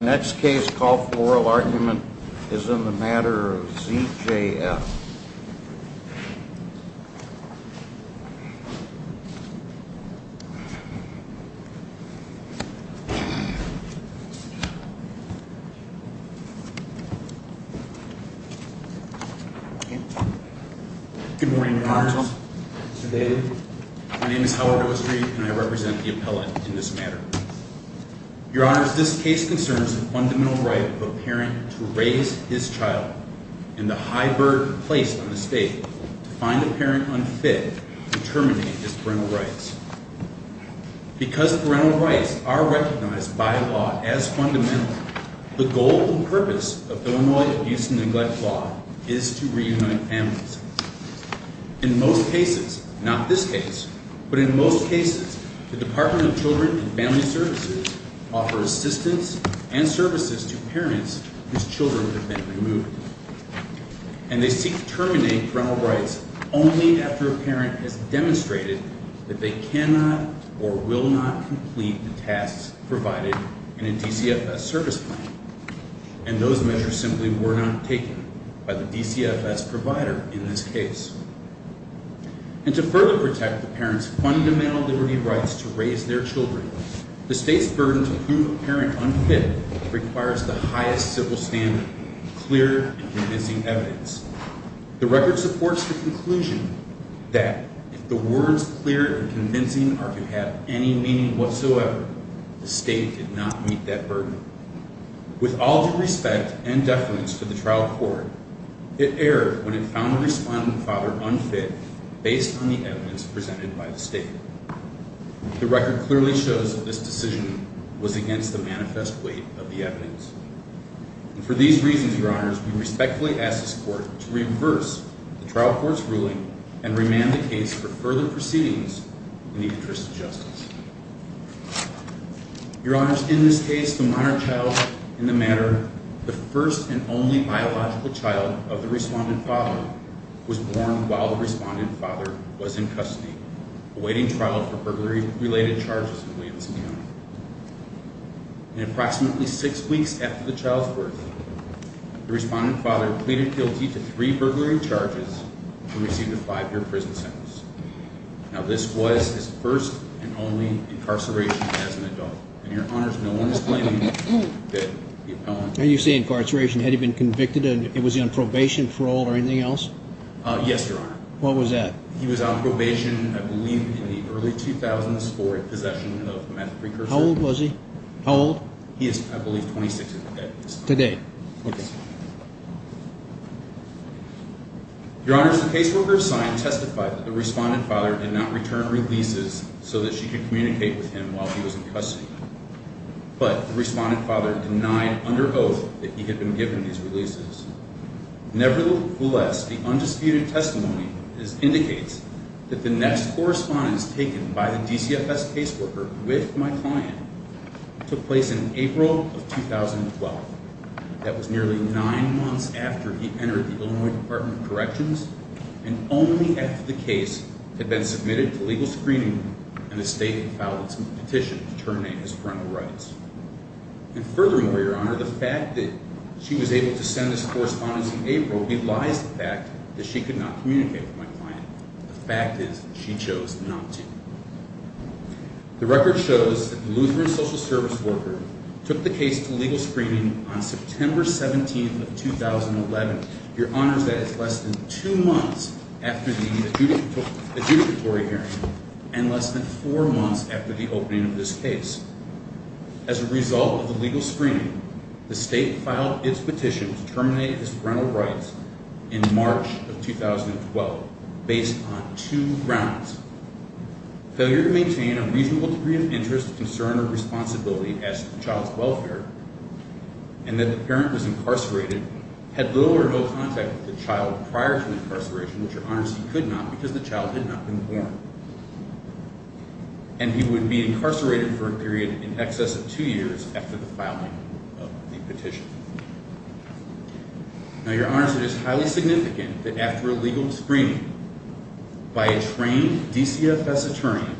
The next case called for oral argument is in the Matter of Z.J.F. Good morning, Your Honors. Good day. My name is Howard Oestreich, and I represent the appellate in this matter. Your Honors, this case concerns the fundamental right of a parent to raise his child, and the high burden placed on the state to find a parent unfit to terminate his parental rights. Because parental rights are recognized by law as fundamental, the goal and purpose of Illinois Abuse and Neglect Law is to reunite families. In most cases, not this case, but in most cases, the Department of Children and Family Services offers assistance and services to parents whose children have been removed. And they seek to terminate parental rights only after a parent has demonstrated that they cannot or will not complete the tasks provided in a DCFS service plan. And those measures simply were not taken by the DCFS provider in this case. And to further protect the parents' fundamental liberty rights to raise their children, the state's burden to prove a parent unfit requires the highest civil standard, clear and convincing evidence. The record supports the conclusion that if the words clear and convincing are to have any meaning whatsoever, the state did not meet that burden. With all due respect and deference to the trial court, it erred when it found the respondent father unfit based on the evidence presented by the state. The record clearly shows that this decision was against the manifest weight of the evidence. And for these reasons, Your Honors, we respectfully ask this court to reverse the trial court's ruling and remand the case for further proceedings in the interest of justice. Your Honors, in this case, the minor child in the matter, the first and only biological child of the respondent father, was born while the respondent father was in custody, awaiting trial for burglary-related charges in Williamson County. In approximately six weeks after the child's birth, the respondent father pleaded guilty to three burglary charges and received a five-year prison sentence. Now, this was his first and only incarceration as an adult. And, Your Honors, no one is claiming that the appellant... Now, you say incarceration. Had he been convicted? And was he on probation, parole, or anything else? Yes, Your Honor. What was that? He was on probation, I believe, in the early 2004 possession of meth precursor. How old was he? How old? He is, I believe, 26 at the date. Today. Okay. Your Honors, the caseworker assigned testified that the respondent father did not return releases so that she could communicate with him while he was in custody. But the respondent father denied under oath that he had been given these releases. Nevertheless, the undisputed testimony indicates that the next correspondence taken by the DCFS caseworker with my client took place in April of 2012. That was nearly nine months after he entered the Illinois Department of Corrections and only after the case had been submitted to legal screening and the state had filed its own petition to terminate his parental rights. And furthermore, Your Honor, the fact that she was able to send this correspondence in April belies the fact that she could not communicate with my client. The fact is that she chose not to. The record shows that the Lutheran social service worker took the case to legal screening on September 17th of 2011. Your Honors, that is less than two months after the adjudicatory hearing and less than four months after the opening of this case. As a result of the legal screening, the state filed its petition to terminate his parental rights in March of 2012 based on two grounds. Failure to maintain a reasonable degree of interest, concern, or responsibility as to the child's welfare and that the parent was incarcerated, had little or no contact with the child prior to the incarceration, which, Your Honors, he could not because the child had not been born. And he would be incarcerated for a period in excess of two years after the filing of the petition. Now, Your Honors, it is highly significant that after a legal screening by a trained DCFS attorney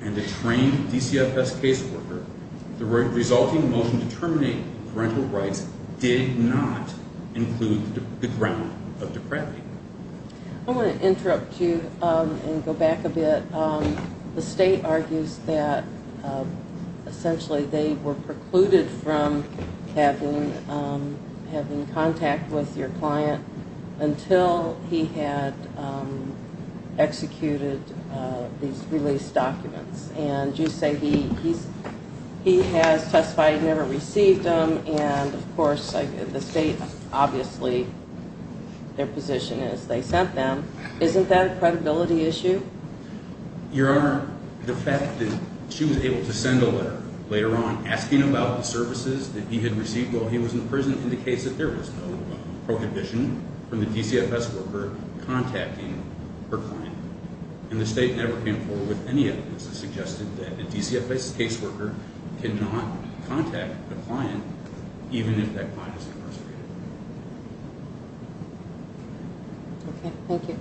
and a trained DCFS caseworker, the resulting motion to terminate parental rights did not include the ground of depravity. I want to interrupt you and go back a bit. The state argues that essentially they were precluded from having contact with your client until he had executed these release documents. And you say he has testified he never received them, and, of course, the state, obviously, their position is they sent them. Isn't that a credibility issue? Your Honor, the fact that she was able to send a letter later on asking about the services that he had received while he was in prison indicates that there was no prohibition from the DCFS worker contacting her client. And the state never came forward with any evidence that suggested that a DCFS caseworker could not contact the client even if that client was incarcerated. Okay. Thank you.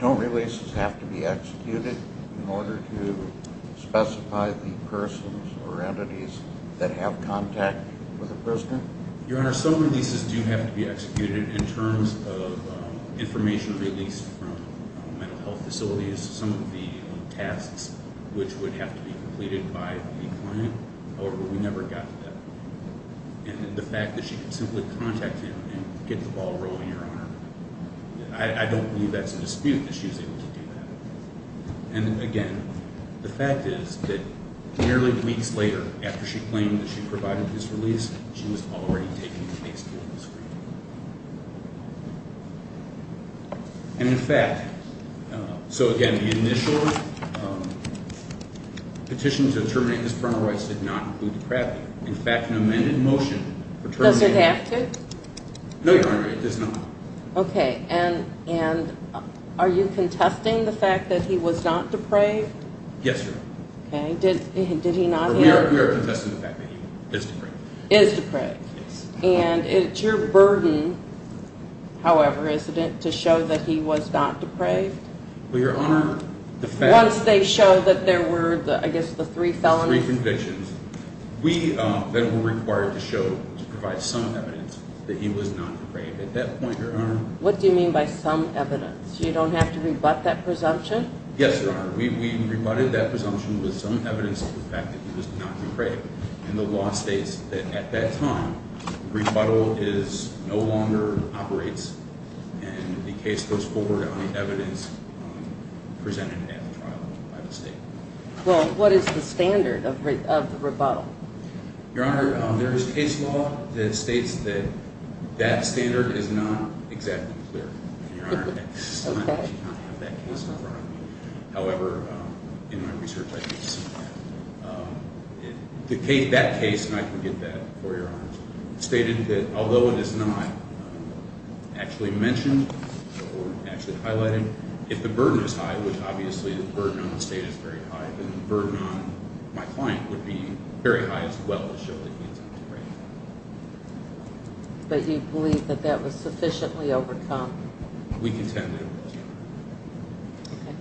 Don't releases have to be executed in order to specify the persons or entities that have contact with a prisoner? Your Honor, some releases do have to be executed in terms of information released from mental health facilities, some of the tasks which would have to be completed by the client. However, we never got to that. And the fact that she could simply contact him and get the ball rolling, Your Honor, I don't believe that's a dispute that she was able to do that. And, again, the fact is that nearly weeks later, after she claimed that she provided his release, she was already taking the case before the Supreme Court. And, in fact, so, again, the initial petition to terminate his parental rights did not include depravity. In fact, an amended motion for terminating... Does it have to? No, Your Honor, it does not. Okay. And are you contesting the fact that he was not depraved? Yes, Your Honor. Okay. Did he not... We are contesting the fact that he is depraved. Is depraved. Yes. And it's your burden, however, isn't it, to show that he was not depraved? Well, Your Honor, the fact... Once they show that there were, I guess, the three felonies. Three convictions. We then were required to show, to provide some evidence that he was not depraved. At that point, Your Honor... What do you mean by some evidence? You don't have to rebut that presumption? Yes, Your Honor. We rebutted that presumption with some evidence of the fact that he was not depraved. And the law states that at that time, rebuttal no longer operates, and the case goes forward on the evidence presented at the trial by the state. Well, what is the standard of the rebuttal? Your Honor, there is case law that states that that standard is not exactly clear. Your Honor, at this time, I do not have that case number on me. However, in my research, I do see that. That case, and I can get that for you, Your Honor, stated that although it is not actually mentioned or actually highlighted, if the burden is high, which obviously the burden on the state is very high, then the burden on my client would be very high as well to show that he is not depraved. But you believe that that was sufficiently overcome? We contend that it was not. Okay.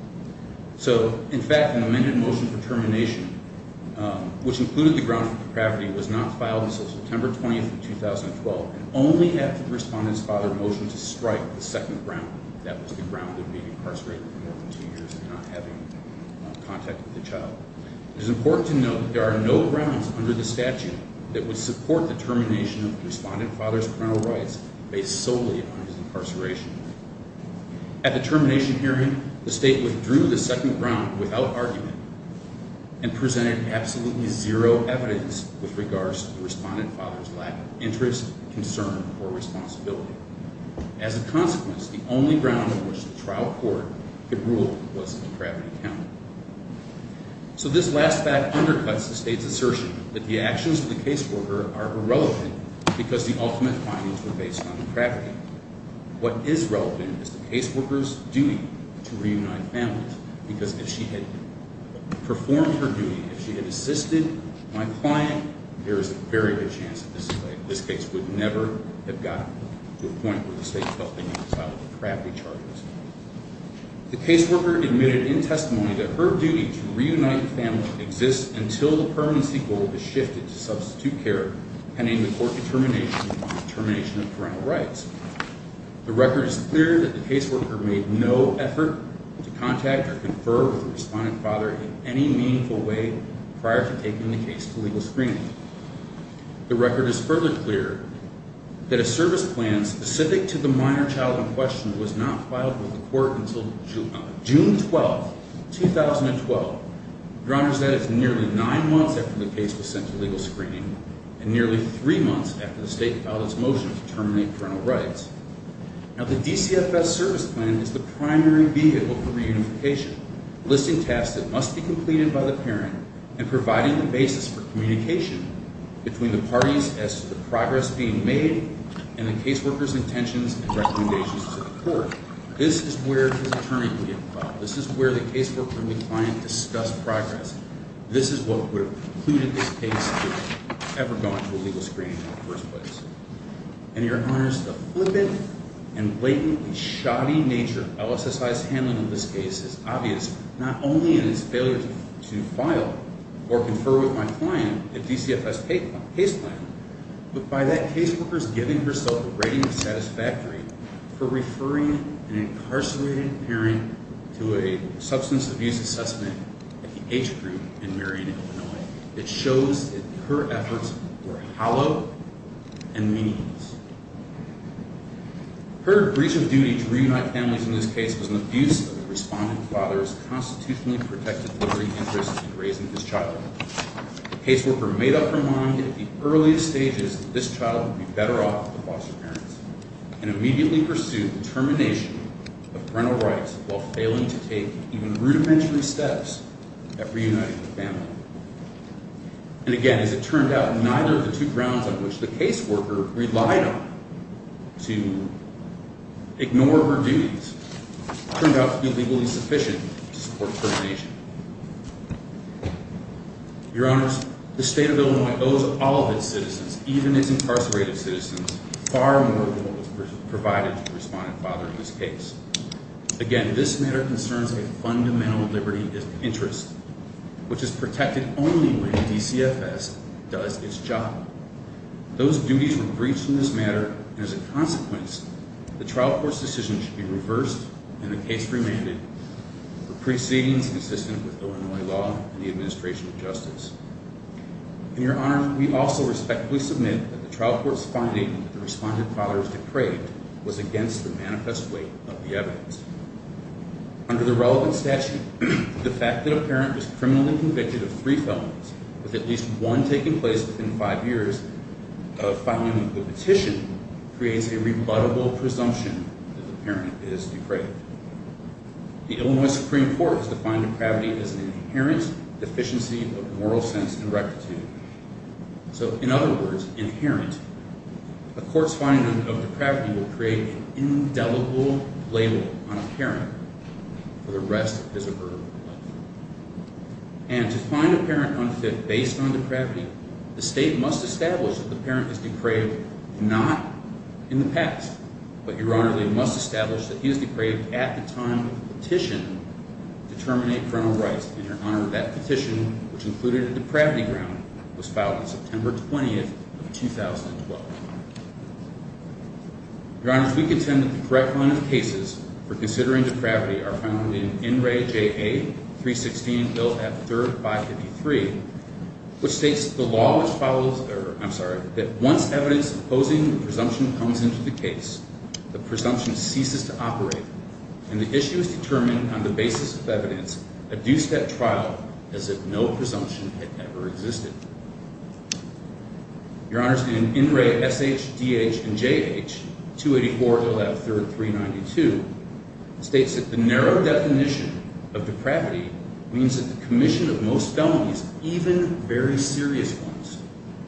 So, in fact, an amended motion for termination, which included the grounds for depravity, was not filed until September 20, 2012, and only after the respondent's father motioned to strike the second ground. That was the ground of being incarcerated for more than two years and not having contact with the child. It is important to note that there are no grounds under the statute that would support the termination of the respondent father's parental rights based solely on his incarceration. At the termination hearing, the state withdrew the second ground without argument and presented absolutely zero evidence with regards to the respondent father's lack of interest, concern, or responsibility. As a consequence, the only ground on which the trial court could rule was a depravity count. So this last fact undercuts the state's assertion that the actions of the caseworker are irrelevant because the ultimate findings were based on depravity. In fact, what is relevant is the caseworker's duty to reunite families because if she had performed her duty, if she had assisted my client, there is a very good chance that this case would never have gotten to a point where the state felt they needed to file depravity charges. The caseworker admitted in testimony that her duty to reunite the family exists until the permanency goal is shifted to substitute care pending the court determination on the termination of parental rights. The record is clear that the caseworker made no effort to contact or confer with the respondent father in any meaningful way prior to taking the case to legal screening. The record is further clear that a service plan specific to the minor child in question was not filed with the court until June 12, 2012. Your Honor, that is nearly nine months after the case was sent to legal screening and nearly three months after the state filed its motion to terminate parental rights. Now the DCFS service plan is the primary vehicle for reunification, listing tasks that must be completed by the parent and providing the basis for communication between the parties as to the progress being made This is where his attorney would get involved. This is where the caseworker and the client discuss progress. This is what would have precluded this case from ever going to a legal screening in the first place. And Your Honor, the flippant and blatantly shoddy nature of LSSI's handling of this case is obvious not only in its failure to file or confer with my client a DCFS case plan, but by that caseworker's giving herself a rating of satisfactory for referring an incarcerated parent to a substance abuse assessment at the H Group in Marion, Illinois. It shows that her efforts were hollow and meaningless. Her breach of duty to reunite families in this case was an abuse of the respondent father's constitutionally protected liberty interest in raising his child. The caseworker made up her mind at the earliest stages that this child would be better off with the foster parents and immediately pursued termination of parental rights while failing to take even rudimentary steps at reuniting the family. And again, as it turned out, neither of the two grounds on which the caseworker relied on to ignore her duties turned out to be legally sufficient to support termination. Your Honors, the State of Illinois owes all of its citizens, even its incarcerated citizens, far more than what was provided to the respondent father in this case. Again, this matter concerns a fundamental liberty interest, which is protected only when DCFS does its job. Those duties were breached in this matter, and as a consequence, the trial court's decision should be reversed and the case remanded for proceedings consistent with Illinois law and the administration of justice. And Your Honors, we also respectfully submit that the trial court's finding that the respondent father is depraved was against the manifest weight of the evidence. Under the relevant statute, the fact that a parent was criminally convicted of three felonies, with at least one taking place within five years of filing the petition, creates a rebuttable presumption that the parent is depraved. The Illinois Supreme Court has defined depravity as an inherent deficiency of moral sense and rectitude. So, in other words, inherent. A court's finding of depravity will create an indelible label on a parent for the rest of his or her life. And to find a parent unfit based on depravity, the state must establish that the parent is depraved not in the past, but Your Honor, they must establish that he is depraved at the time of the petition to terminate parental rights. And Your Honor, that petition, which included a depravity ground, was filed on September 20th of 2012. Your Honors, we contend that the correct line of cases for considering depravity are found in NRAI JA 316 Bill F-353, which states that once evidence opposing the presumption comes into the case, the presumption ceases to operate, and the issue is determined on the basis of evidence adduced at trial as if no presumption had ever existed. Your Honors, in NRAI SHDH and JH 284 Bill F-3392, states that the narrow definition of depravity means that the commission of most felonies, even very serious ones,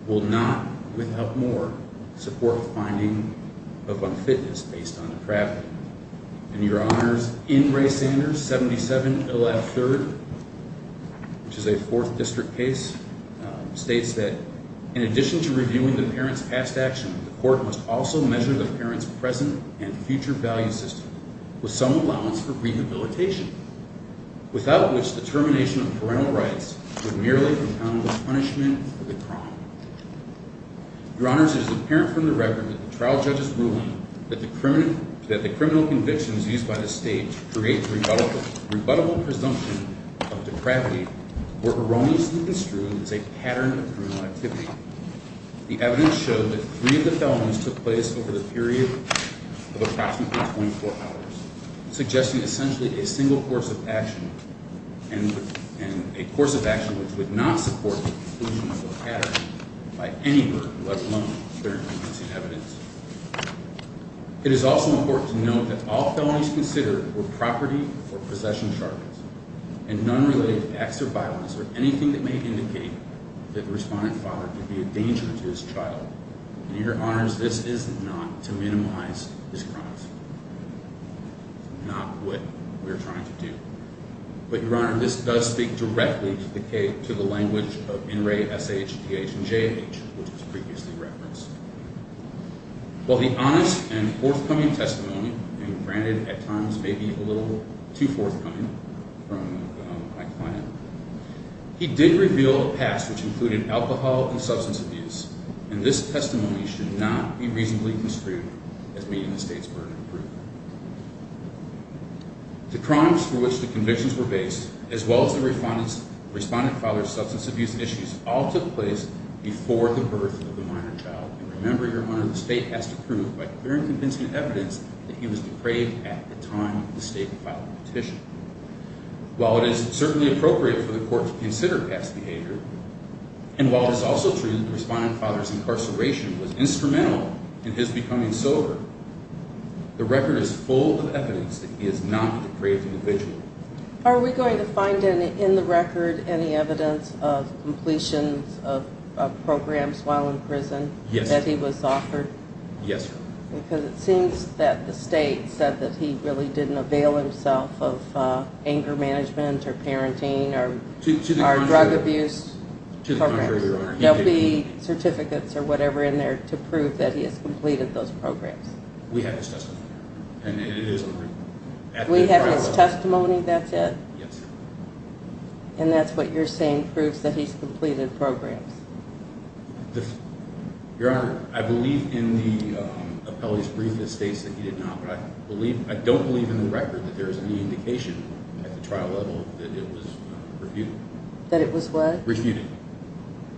will not, without more, support a finding of unfitness based on depravity. And Your Honors, in Ray Sanders 77 Bill F-3rd, which is a 4th District case, states that in addition to reviewing the parent's past action, the court must also measure the parent's present and future value system with some allowance for rehabilitation, without which the termination of parental rights would merely count as punishment for the crime. Your Honors, it is apparent from the record of the trial judge's ruling that the criminal convictions used by the state to create the rebuttable presumption of depravity were erroneously construed as a pattern of criminal activity. The evidence showed that three of the felonies took place over the period of approximately 24 hours, suggesting essentially a single course of action, and a course of action which would not support the conclusion of the pattern by any group, let alone parent-convincing evidence. It is also important to note that all felonies considered were property or possession charges, and none related to acts of violence or anything that may indicate that the respondent father could be a danger to his child. And Your Honors, this is not to minimize his crimes. Not what we are trying to do. But Your Honor, this does speak directly to the language of N-Ray, S-H, D-H, and J-H, which was previously referenced. While the honest and forthcoming testimony, and granted at times maybe a little too forthcoming from my client, he did reveal a past which included alcohol and substance abuse, and this testimony should not be reasonably construed as meeting the state's burden of proof. The crimes for which the convictions were based, as well as the respondent father's substance abuse issues, all took place before the birth of the minor child. And remember, Your Honor, the state has to prove, by parent-convincing evidence, that he was depraved at the time of the state filing the petition. While it is certainly appropriate for the court to consider past behavior, and while it is also true that the respondent father's incarceration was instrumental in his becoming sober, the record is full of evidence that he is not a depraved individual. Are we going to find in the record any evidence of completions of programs while in prison? Yes. That he was offered? Yes, Your Honor. Because it seems that the state said that he really didn't avail himself of anger management or parenting or drug abuse programs. To the contrary, Your Honor. There will be certificates or whatever in there to prove that he has completed those programs. We have his testimony. We have his testimony, that's it? Yes. And that's what you're saying proves that he's completed programs? Your Honor, I believe in the appellee's brief that states that he did not, but I don't believe in the record that there is any indication at the trial level that it was refuted. That it was what? Refuted.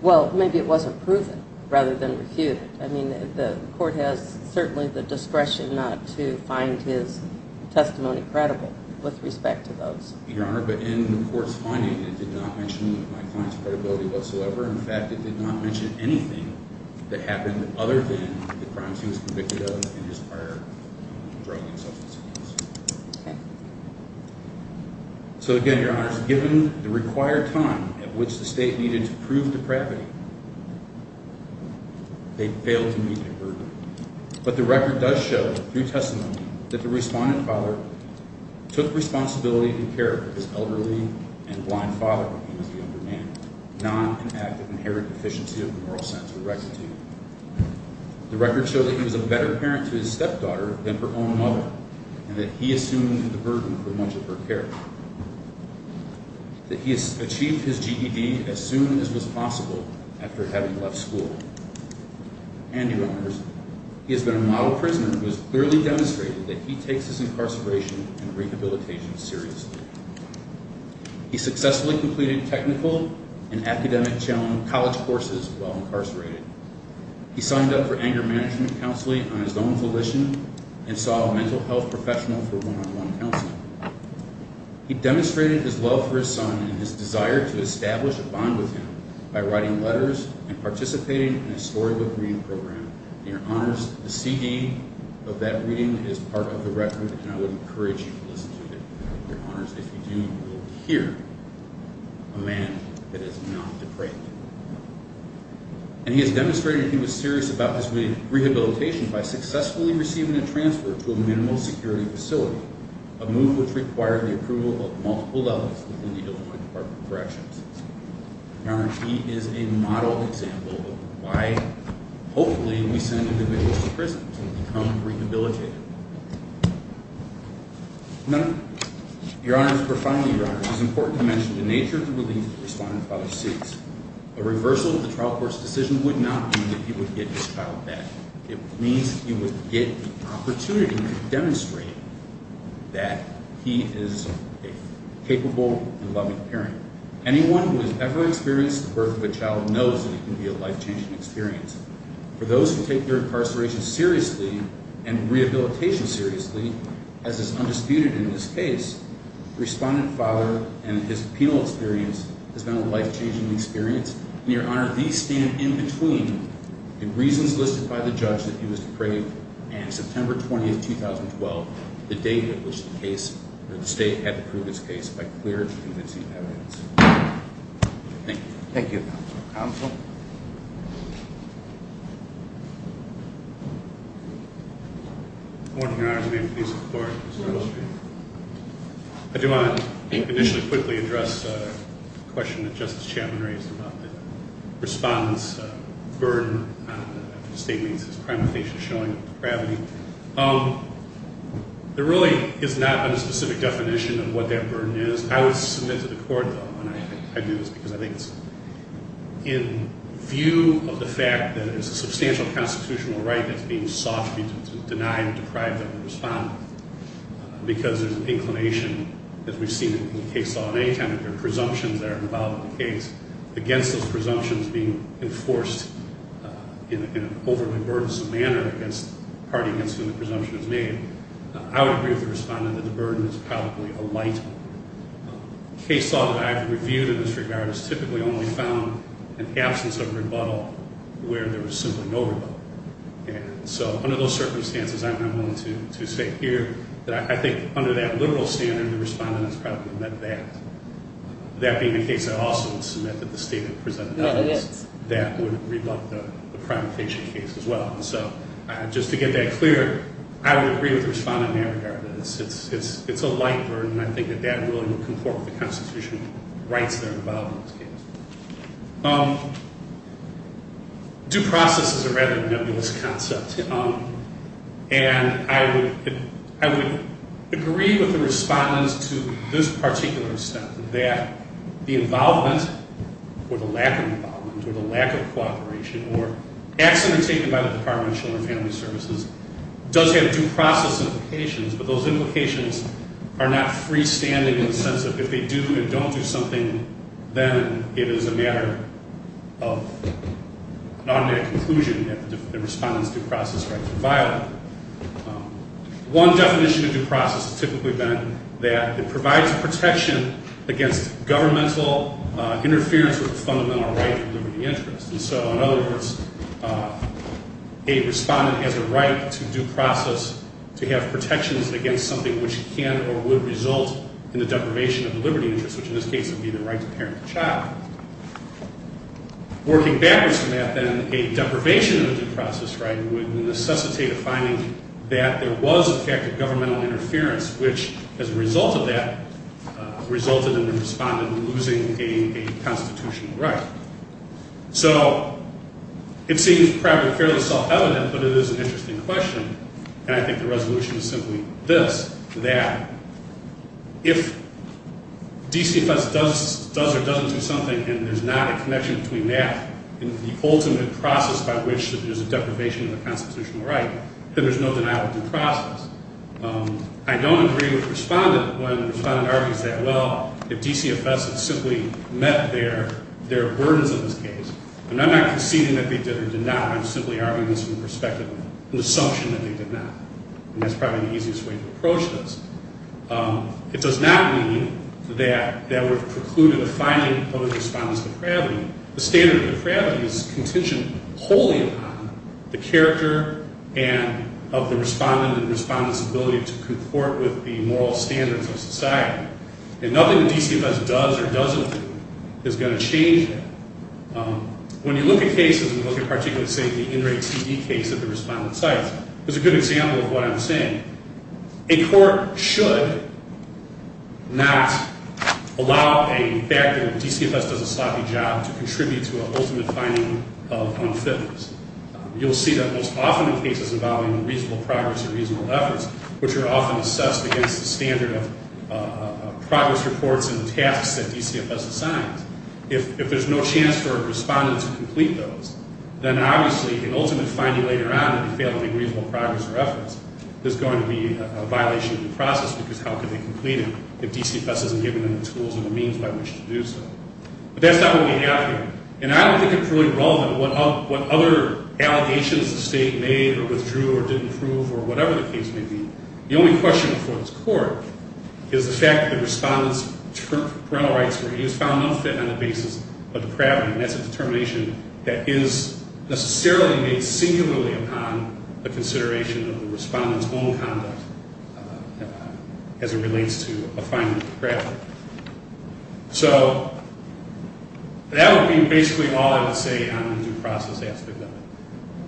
Well, maybe it wasn't proven rather than refuted. I mean, the court has certainly the discretion not to find his testimony credible with respect to those. Your Honor, but in the court's finding, it did not mention my client's credibility whatsoever. In fact, it did not mention anything that happened other than the crimes he was convicted of in his prior drug and substance abuse. Okay. So, again, Your Honor, given the required time at which the state needed to prove depravity, they failed to meet their burden. But the record does show, through testimony, that the respondent father took responsibility and cared for his elderly and blind father when he was a young man, not an act of inherited deficiency of moral sense or rectitude. The record showed that he was a better parent to his stepdaughter than her own mother, and that he assumed the burden for much of her care. That he achieved his GED as soon as was possible after having left school. And, Your Honors, he has been a model prisoner who has clearly demonstrated that he takes his incarceration and rehabilitation seriously. He successfully completed technical and academic college courses while incarcerated. He signed up for anger management counseling on his own volition and saw a mental health professional for one-on-one counseling. He demonstrated his love for his son and his desire to establish a bond with him by writing letters and participating in a storybook reading program. And, Your Honors, the CD of that reading is part of the record, and I would encourage you to listen to it. Your Honors, if you do, you will hear a man that is not depraved. And he has demonstrated he was serious about his rehabilitation by successfully receiving a transfer to a minimal security facility, a move which required the approval of multiple levels within the Illinois Department of Corrections. Your Honors, he is a model example of why, hopefully, we send individuals to prison to become rehabilitated. Now, Your Honors, profoundly, Your Honors, it is important to mention the nature of the relief that Respondent Fowler seeks. A reversal of the trial court's decision would not mean that he would get his child back. It means he would get the opportunity to demonstrate that he is a capable and loving parent. Anyone who has ever experienced the birth of a child knows that it can be a life-changing experience. For those who take their incarceration seriously and rehabilitation seriously, as is undisputed in this case, Respondent Fowler and his penal experience has been a life-changing experience. And, Your Honor, these stand in between the reasons listed by the judge that he was depraved and September 20, 2012, the date at which the state had to prove his case by clear and convincing evidence. Thank you. Thank you, Counsel. Counsel? Good morning, Your Honors. May I please have the floor? I do want to initially quickly address a question that Justice Chapman raised about the Respondent's burden after the state meets his crime of facial showing and depravity. There really is not a specific definition of what that burden is. I would submit to the court, though, when I do this because I think it's in view of the fact that it's a substantial constitutional right that's being sought to deny and deprive the Respondent. Because there's an inclination, as we've seen in the case law at any time, that there are presumptions that are involved in the case against those presumptions being enforced in an overly burdensome manner against the party against whom the presumption is made. I would agree with the Respondent that the burden is probably a light one. The case law that I've reviewed in this regard has typically only found an absence of rebuttal where there was simply no rebuttal. And so under those circumstances, I'm willing to say here that I think under that liberal standard, the Respondent has probably met that. That being the case, I also would submit that the state had presented evidence that would rebut the crime of facial case as well. And so just to get that clear, I would agree with the Respondent in that regard. It's a light burden, and I think that that really would conform to the constitutional rights that are involved in this case. Due process is a rather nebulous concept. And I would agree with the Respondent to this particular step, that the involvement or the lack of involvement or the lack of cooperation or acts undertaken by the Department of Children and Family Services does have due process implications, but those implications are not freestanding in the sense that if they do and don't do something, then it is a matter of an automatic conclusion that the Respondent's due process rights are violated. One definition of due process has typically been that it provides protection against governmental interference with the fundamental right to liberty of interest. And so, in other words, a Respondent has a right to due process to have protections against something which can or would result in the deprivation of the liberty of interest, which in this case would be the right to parent a child. Working backwards from that, then, a deprivation of the due process right would necessitate a finding that there was a fact of governmental interference, which, as a result of that, resulted in the Respondent losing a constitutional right. So it seems probably fairly self-evident, but it is an interesting question, and I think the resolution is simply this, that if DCFS does or doesn't do something and there's not a connection between that and the ultimate process by which there's a deprivation of the constitutional right, then there's no denial of due process. I don't agree with the Respondent when the Respondent argues that, well, if DCFS had simply met their burdens in this case, and I'm not conceding that they did or did not, I'm simply arguing this from the perspective of an assumption that they did not, and that's probably the easiest way to approach this. It does not mean that there were precluded a finding of the Respondent's depravity. The standard of depravity is contingent wholly upon the character of the Respondent and the Respondent's ability to comport with the moral standards of society, and nothing that DCFS does or doesn't do is going to change that. When you look at cases, and you look at particularly, say, the in-rate TV case at the Respondent's site, there's a good example of what I'm saying. A court should not allow a factor that DCFS does a sloppy job to contribute to an ultimate finding of unfitness. You'll see that most often in cases involving reasonable progress and reasonable efforts, which are often assessed against the standard of progress reports and the tasks that DCFS assigns. If there's no chance for a Respondent to complete those, then obviously an ultimate finding later on, if you fail to make reasonable progress or efforts, there's going to be a violation of the process, because how could they complete it if DCFS hasn't given them the tools and the means by which to do so? But that's not what we have here. And I don't think it's really relevant what other allegations the State made or withdrew or didn't prove or whatever the case may be. The only question before this Court is the fact that the Respondent's parental rights were found unfit on the basis of depravity, and that's a determination that is necessarily made singularly upon the consideration of the Respondent's own conduct as it relates to a finding of depravity. So that would be basically all I would say on the due process aspect of it.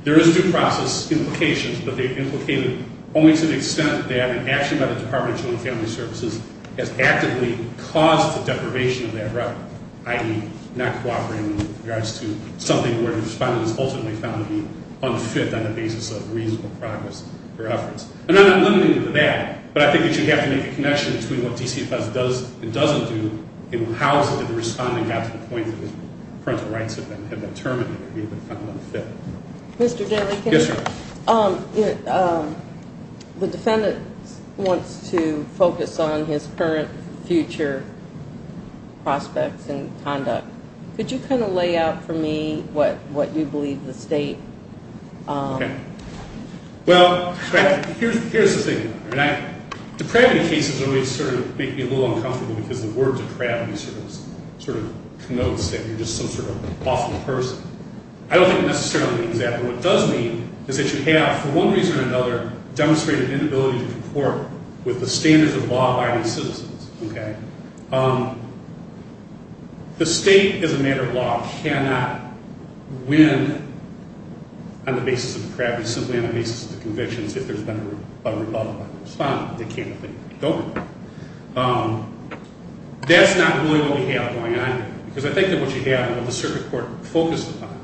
There is due process implications, but they're implicated only to the extent that an action by the Department of Children and Family Services has actively caused the deprivation of that record, i.e., not cooperating in regards to something where the Respondent is ultimately found to be unfit on the basis of reasonable progress or efforts. And I'm not limiting you to that, but I think that you have to make a connection between what DCFS does and doesn't do and how is it that the Respondent got to the point that his parental rights had been determined that he had been found unfit. Mr. Daley, the Defendant wants to focus on his current future prospects and conduct. Could you kind of lay out for me what you believe the State... Well, here's the thing. Depravity cases always sort of make me a little uncomfortable because the word depravity sort of connotes that you're just some sort of awful person. I don't think it necessarily means that, but what it does mean is that you have, for one reason or another, demonstrated inability to comport with the standards of law by these citizens. The State, as a matter of law, cannot win on the basis of depravity simply on the basis of the convictions if there's been a Republican Respondent. They can't. They don't. That's not really what we have going on here. Because I think that what you have and what the Circuit Court focused upon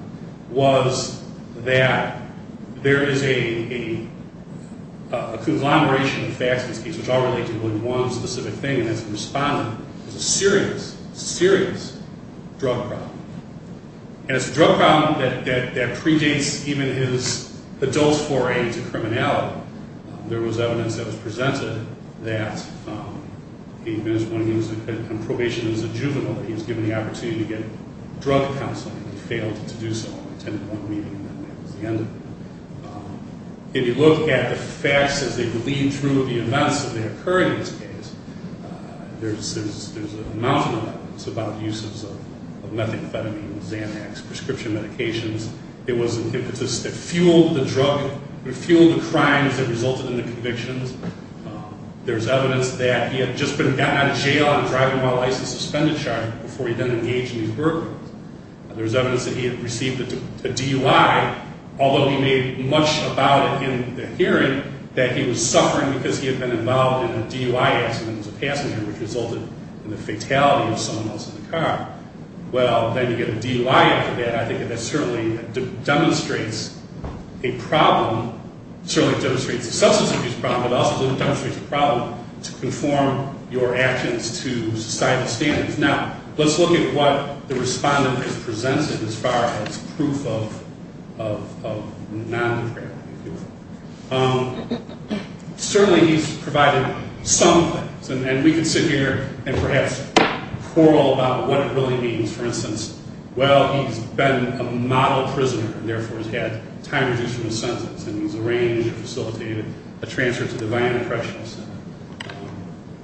was that there is a conglomeration of facts in these cases which all relate to only one specific thing, and that's the Respondent. It's a serious, serious drug problem. And it's a drug problem that predates even his adult foray into criminality. There was evidence that was presented that even when he was on probation as a juvenile, that he was given the opportunity to get drug counseling, and he failed to do so. He attended one meeting, and that was the end of it. If you look at the facts as they bleed through the events that occurred in this case, there's a mountain of evidence about the uses of methamphetamine, Xanax, prescription medications. It was an impetus that fueled the drug, fueled the crimes that resulted in the convictions. There's evidence that he had just been gotten out of jail on a driving while license suspended charge before he then engaged in these burglars. There's evidence that he had received a DUI, although he made much about it in the hearing, that he was suffering because he had been involved in a DUI accident as a passenger, which resulted in the fatality of someone else in the car. Well, then you get a DUI after that. I think that that certainly demonstrates a problem. It certainly demonstrates the substance of his problem, but it also demonstrates the problem to conform your actions to societal standards. Now, let's look at what the respondent has presented as far as proof of non-depravity. Certainly, he's provided some things, and we can sit here and perhaps quarrel about what it really means. For instance, well, he's been a model prisoner and, therefore, has had time reduced from his sentence, and he's arranged and facilitated a transfer to the Vianna Correctional Center.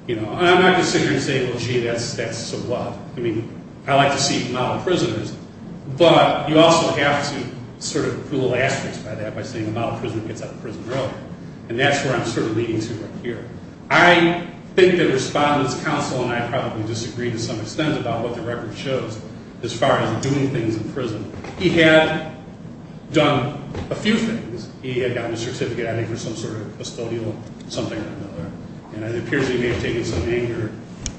I'm not going to sit here and say, well, gee, that's sort of wild. I mean, I like to see model prisoners, but you also have to sort of pull asterisks by that by saying a model prisoner gets out of prison early, and that's where I'm sort of leading to here. I think the respondent's counsel and I probably disagree to some extent about what the record shows as far as doing things in prison. He had done a few things. He had gotten a certificate, I think, for some sort of custodial something or another, and it appears he may have taken some anger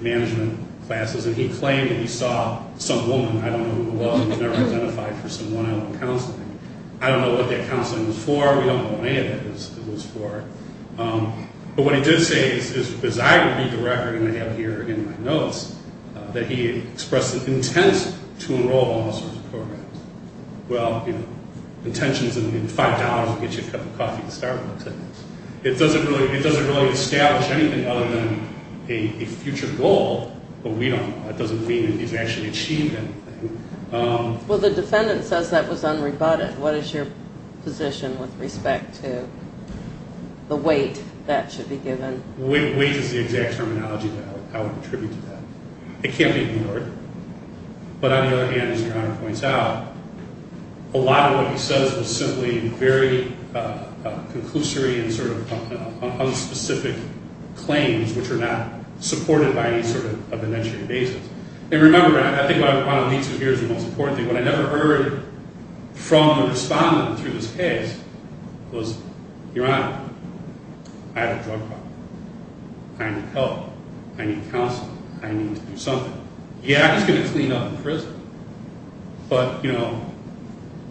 management classes, and he claimed that he saw some woman. I don't know who it was. He was never identified for some one-on-one counseling. I don't know what that counseling was for. We don't know what any of it was for. But what he did say is, as I read the record, and I have here in my notes, that he expressed an intent to enroll in all sorts of programs. Well, intentions in the $5 will get you a cup of coffee to start with. It doesn't really establish anything other than a future goal, but we don't know. That doesn't mean that he's actually achieved anything. Well, the defendant says that was unrebutted. What is your position with respect to the weight that should be given? Weight is the exact terminology that I would attribute to that. It can't be ignored. But on the other hand, as Your Honor points out, a lot of what he says was simply very conclusory and sort of unspecific claims which are not supported by any sort of evidentiary basis. And remember, I think what I want to lead to here is the most important thing. What I never heard from the respondent through this case was, Your Honor, I have a drug problem. I need help. I need counseling. I need to do something. Yeah, he's going to clean up in prison. But, you know,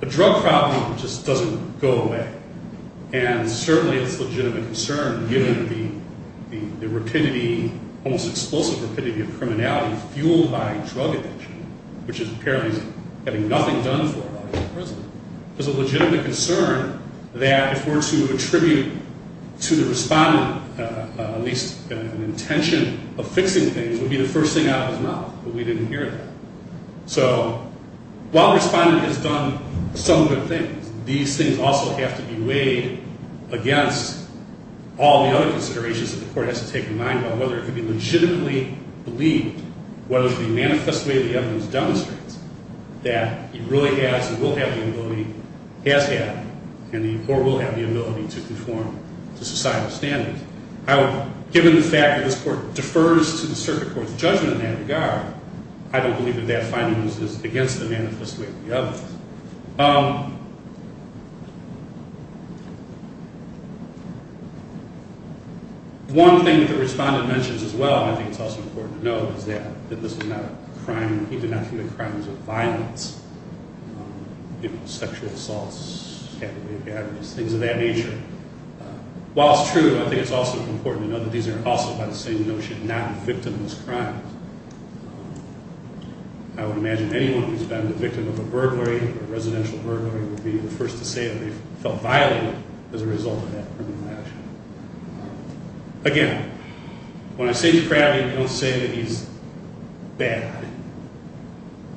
a drug problem just doesn't go away. And certainly it's a legitimate concern given the rapidity, almost explosive rapidity, of criminality fueled by drug addiction, which is apparently having nothing done for it while he's in prison. It's a legitimate concern that if we're to attribute to the respondent at least an intention of fixing things, it would be the first thing out of his mouth. But we didn't hear that. So while the respondent has done some good things, these things also have to be weighed against all the other considerations that the court has to take in mind about whether it can be legitimately believed, whether the manifest way the evidence demonstrates that he really has and will have the ability, has had and will have the ability to conform to societal standards. And given the fact that this court defers to the circuit court's judgment in that regard, I don't believe that that finding is against the manifest way of the evidence. One thing that the respondent mentions as well, and I think it's also important to note, is that this is not a crime, even not human crimes, of violence, sexual assaults, things of that nature. While it's true, I think it's also important to note that these are also by the same notion not victimless crimes. I would imagine anyone who's been the victim of a burglary, a residential burglary, would be the first to say that they felt violated as a result of that criminal action. Again, when I say to Crowley, don't say that he's bad.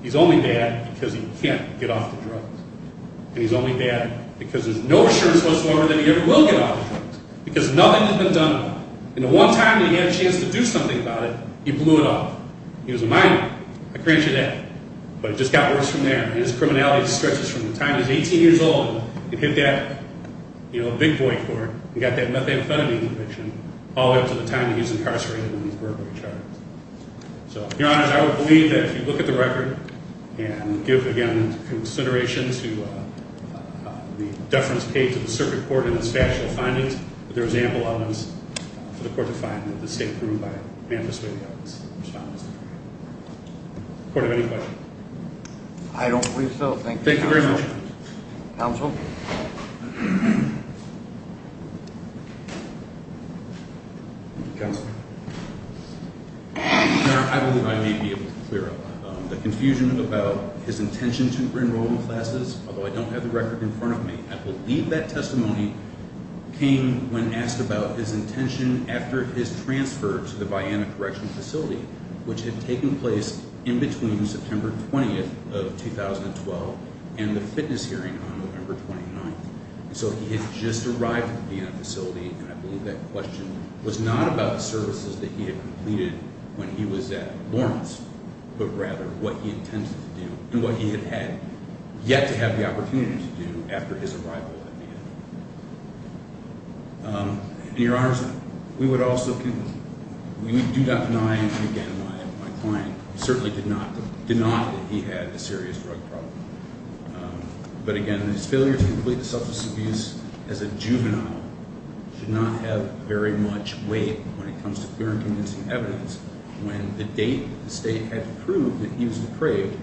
He's only bad because he can't get off the drugs. And he's only bad because there's no assurance whatsoever that he ever will get off the drugs, because nothing has been done about it. And the one time that he had a chance to do something about it, he blew it off. He was a minor. I grant you that. But it just got worse from there. His criminality stretches from the time he was 18 years old and hit that big boy court and got that methamphetamine conviction all the way up to the time that he was incarcerated and his burglary charges. So, Your Honors, I would believe that if you look at the record and give, again, consideration to the deference paid to the circuit court in its factual findings, that there is ample evidence for the court to find that the state approved by an amnesty of the evidence responds to the crime. Court, do you have any questions? I don't believe so. Thank you, Counsel. Counsel? I believe I may be able to clear up the confusion about his intention to re-enroll in classes, although I don't have the record in front of me. I believe that testimony came when asked about his intention after his transfer to the ByAnna Correctional Facility, which had taken place in between September 20th of 2012 and the fitness hearing on November 29th. So he had just arrived at the ByAnna facility, and I believe that question was not about the services that he had completed when he was at Lawrence, but rather what he intended to do and what he had yet to have the opportunity to do after his arrival at ByAnna. Your Honor, we do not deny, and again, my client certainly did not deny that he had a serious drug problem. But again, his failure to complete the substance abuse as a juvenile should not have very much weight when it comes to clear and convincing evidence when the date the state had approved that he was depraved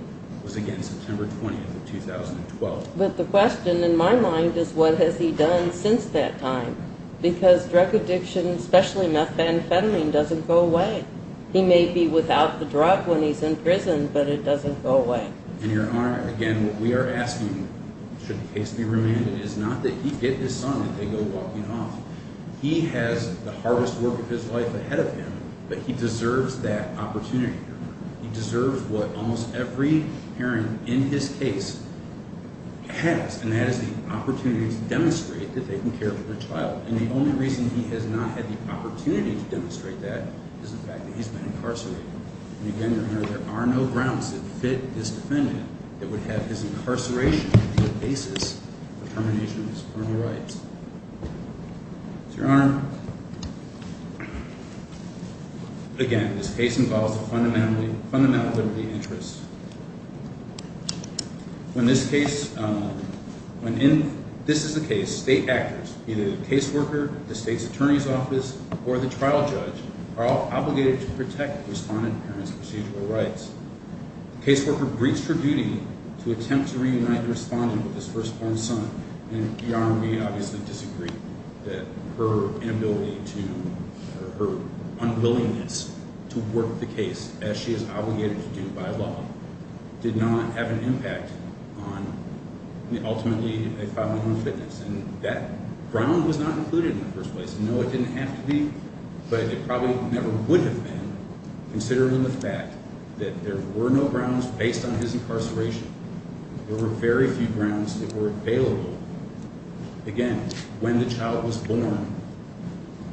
was, again, September 20th of 2012. But the question in my mind is, what has he done since that time? Because drug addiction, especially methamphetamine, doesn't go away. He may be without the drug when he's in prison, but it doesn't go away. And Your Honor, again, what we are asking, should the case be remanded, is not that he get his son and they go walking off. He has the hardest work of his life ahead of him, but he deserves that opportunity. He deserves what almost every parent in his case has, and that is the opportunity to demonstrate that they can care for their child. And the only reason he has not had the opportunity to demonstrate that is the fact that he's been incarcerated. And again, Your Honor, there are no grounds that fit this defendant that would have his incarceration be the basis for termination of his criminal rights. Your Honor, again, this case involves a fundamental liberty interest. When this is the case, state actors, either the caseworker, the state's attorney's office, or the trial judge are all obligated to protect the respondent parent's procedural rights. The caseworker breaks her duty to attempt to reunite the respondent with his firstborn son. And Your Honor, we obviously disagree that her inability to, or her unwillingness to work the case, as she is obligated to do by law, did not have an impact on ultimately a filing on fitness. And that ground was not included in the first place. No, it didn't have to be, but it probably never would have been, considering the fact that there were no grounds based on his incarceration. There were very few grounds that were available. Again, when the child was born,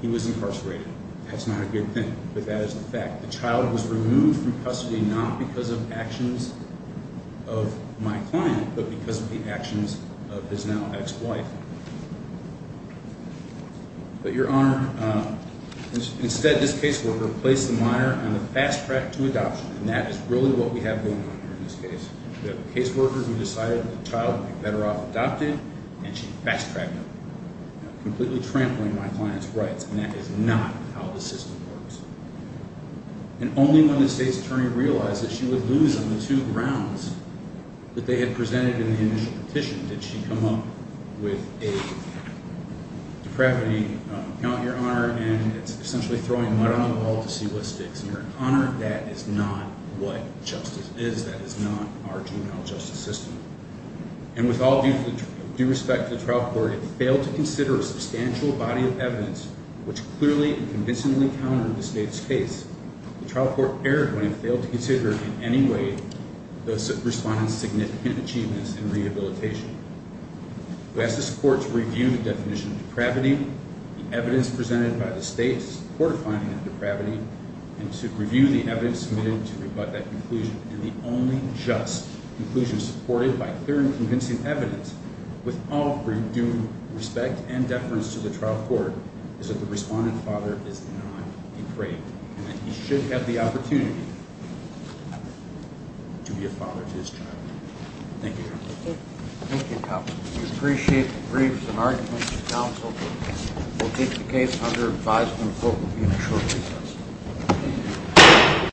he was incarcerated. That's not a good thing, but that is the fact. The child was removed from custody not because of actions of my client, but because of the actions of his now ex-wife. But Your Honor, instead this caseworker placed the minor on the fast track to adoption, and that is really what we have going on here in this case. We have a caseworker who decided that the child would be better off adopted, and she fast-tracked him, completely trampling my client's rights, and that is not how the system works. And only when the state's attorney realized that she would lose on the two grounds that they had presented in the initial petition did she come up with a depravity, Your Honor, and it's essentially throwing mud on the wall to see what sticks. And Your Honor, that is not what justice is. That is not our juvenile justice system. And with all due respect to the trial court, it failed to consider a substantial body of evidence which clearly and convincingly countered the state's case. The trial court erred when it failed to consider in any way the respondent's significant achievements in rehabilitation. We ask this court to review the definition of depravity, the evidence presented by the state's court finding of depravity, and to review the evidence submitted to rebut that conclusion. And the only just conclusion supported by clear and convincing evidence, with all due respect and deference to the trial court, is that the respondent's father is not depraved and that he should have the opportunity to be a father to his child. Thank you, Your Honor. Thank you, counsel. We appreciate the briefs and arguments. Thank you, counsel. We'll take the case under advisory review shortly.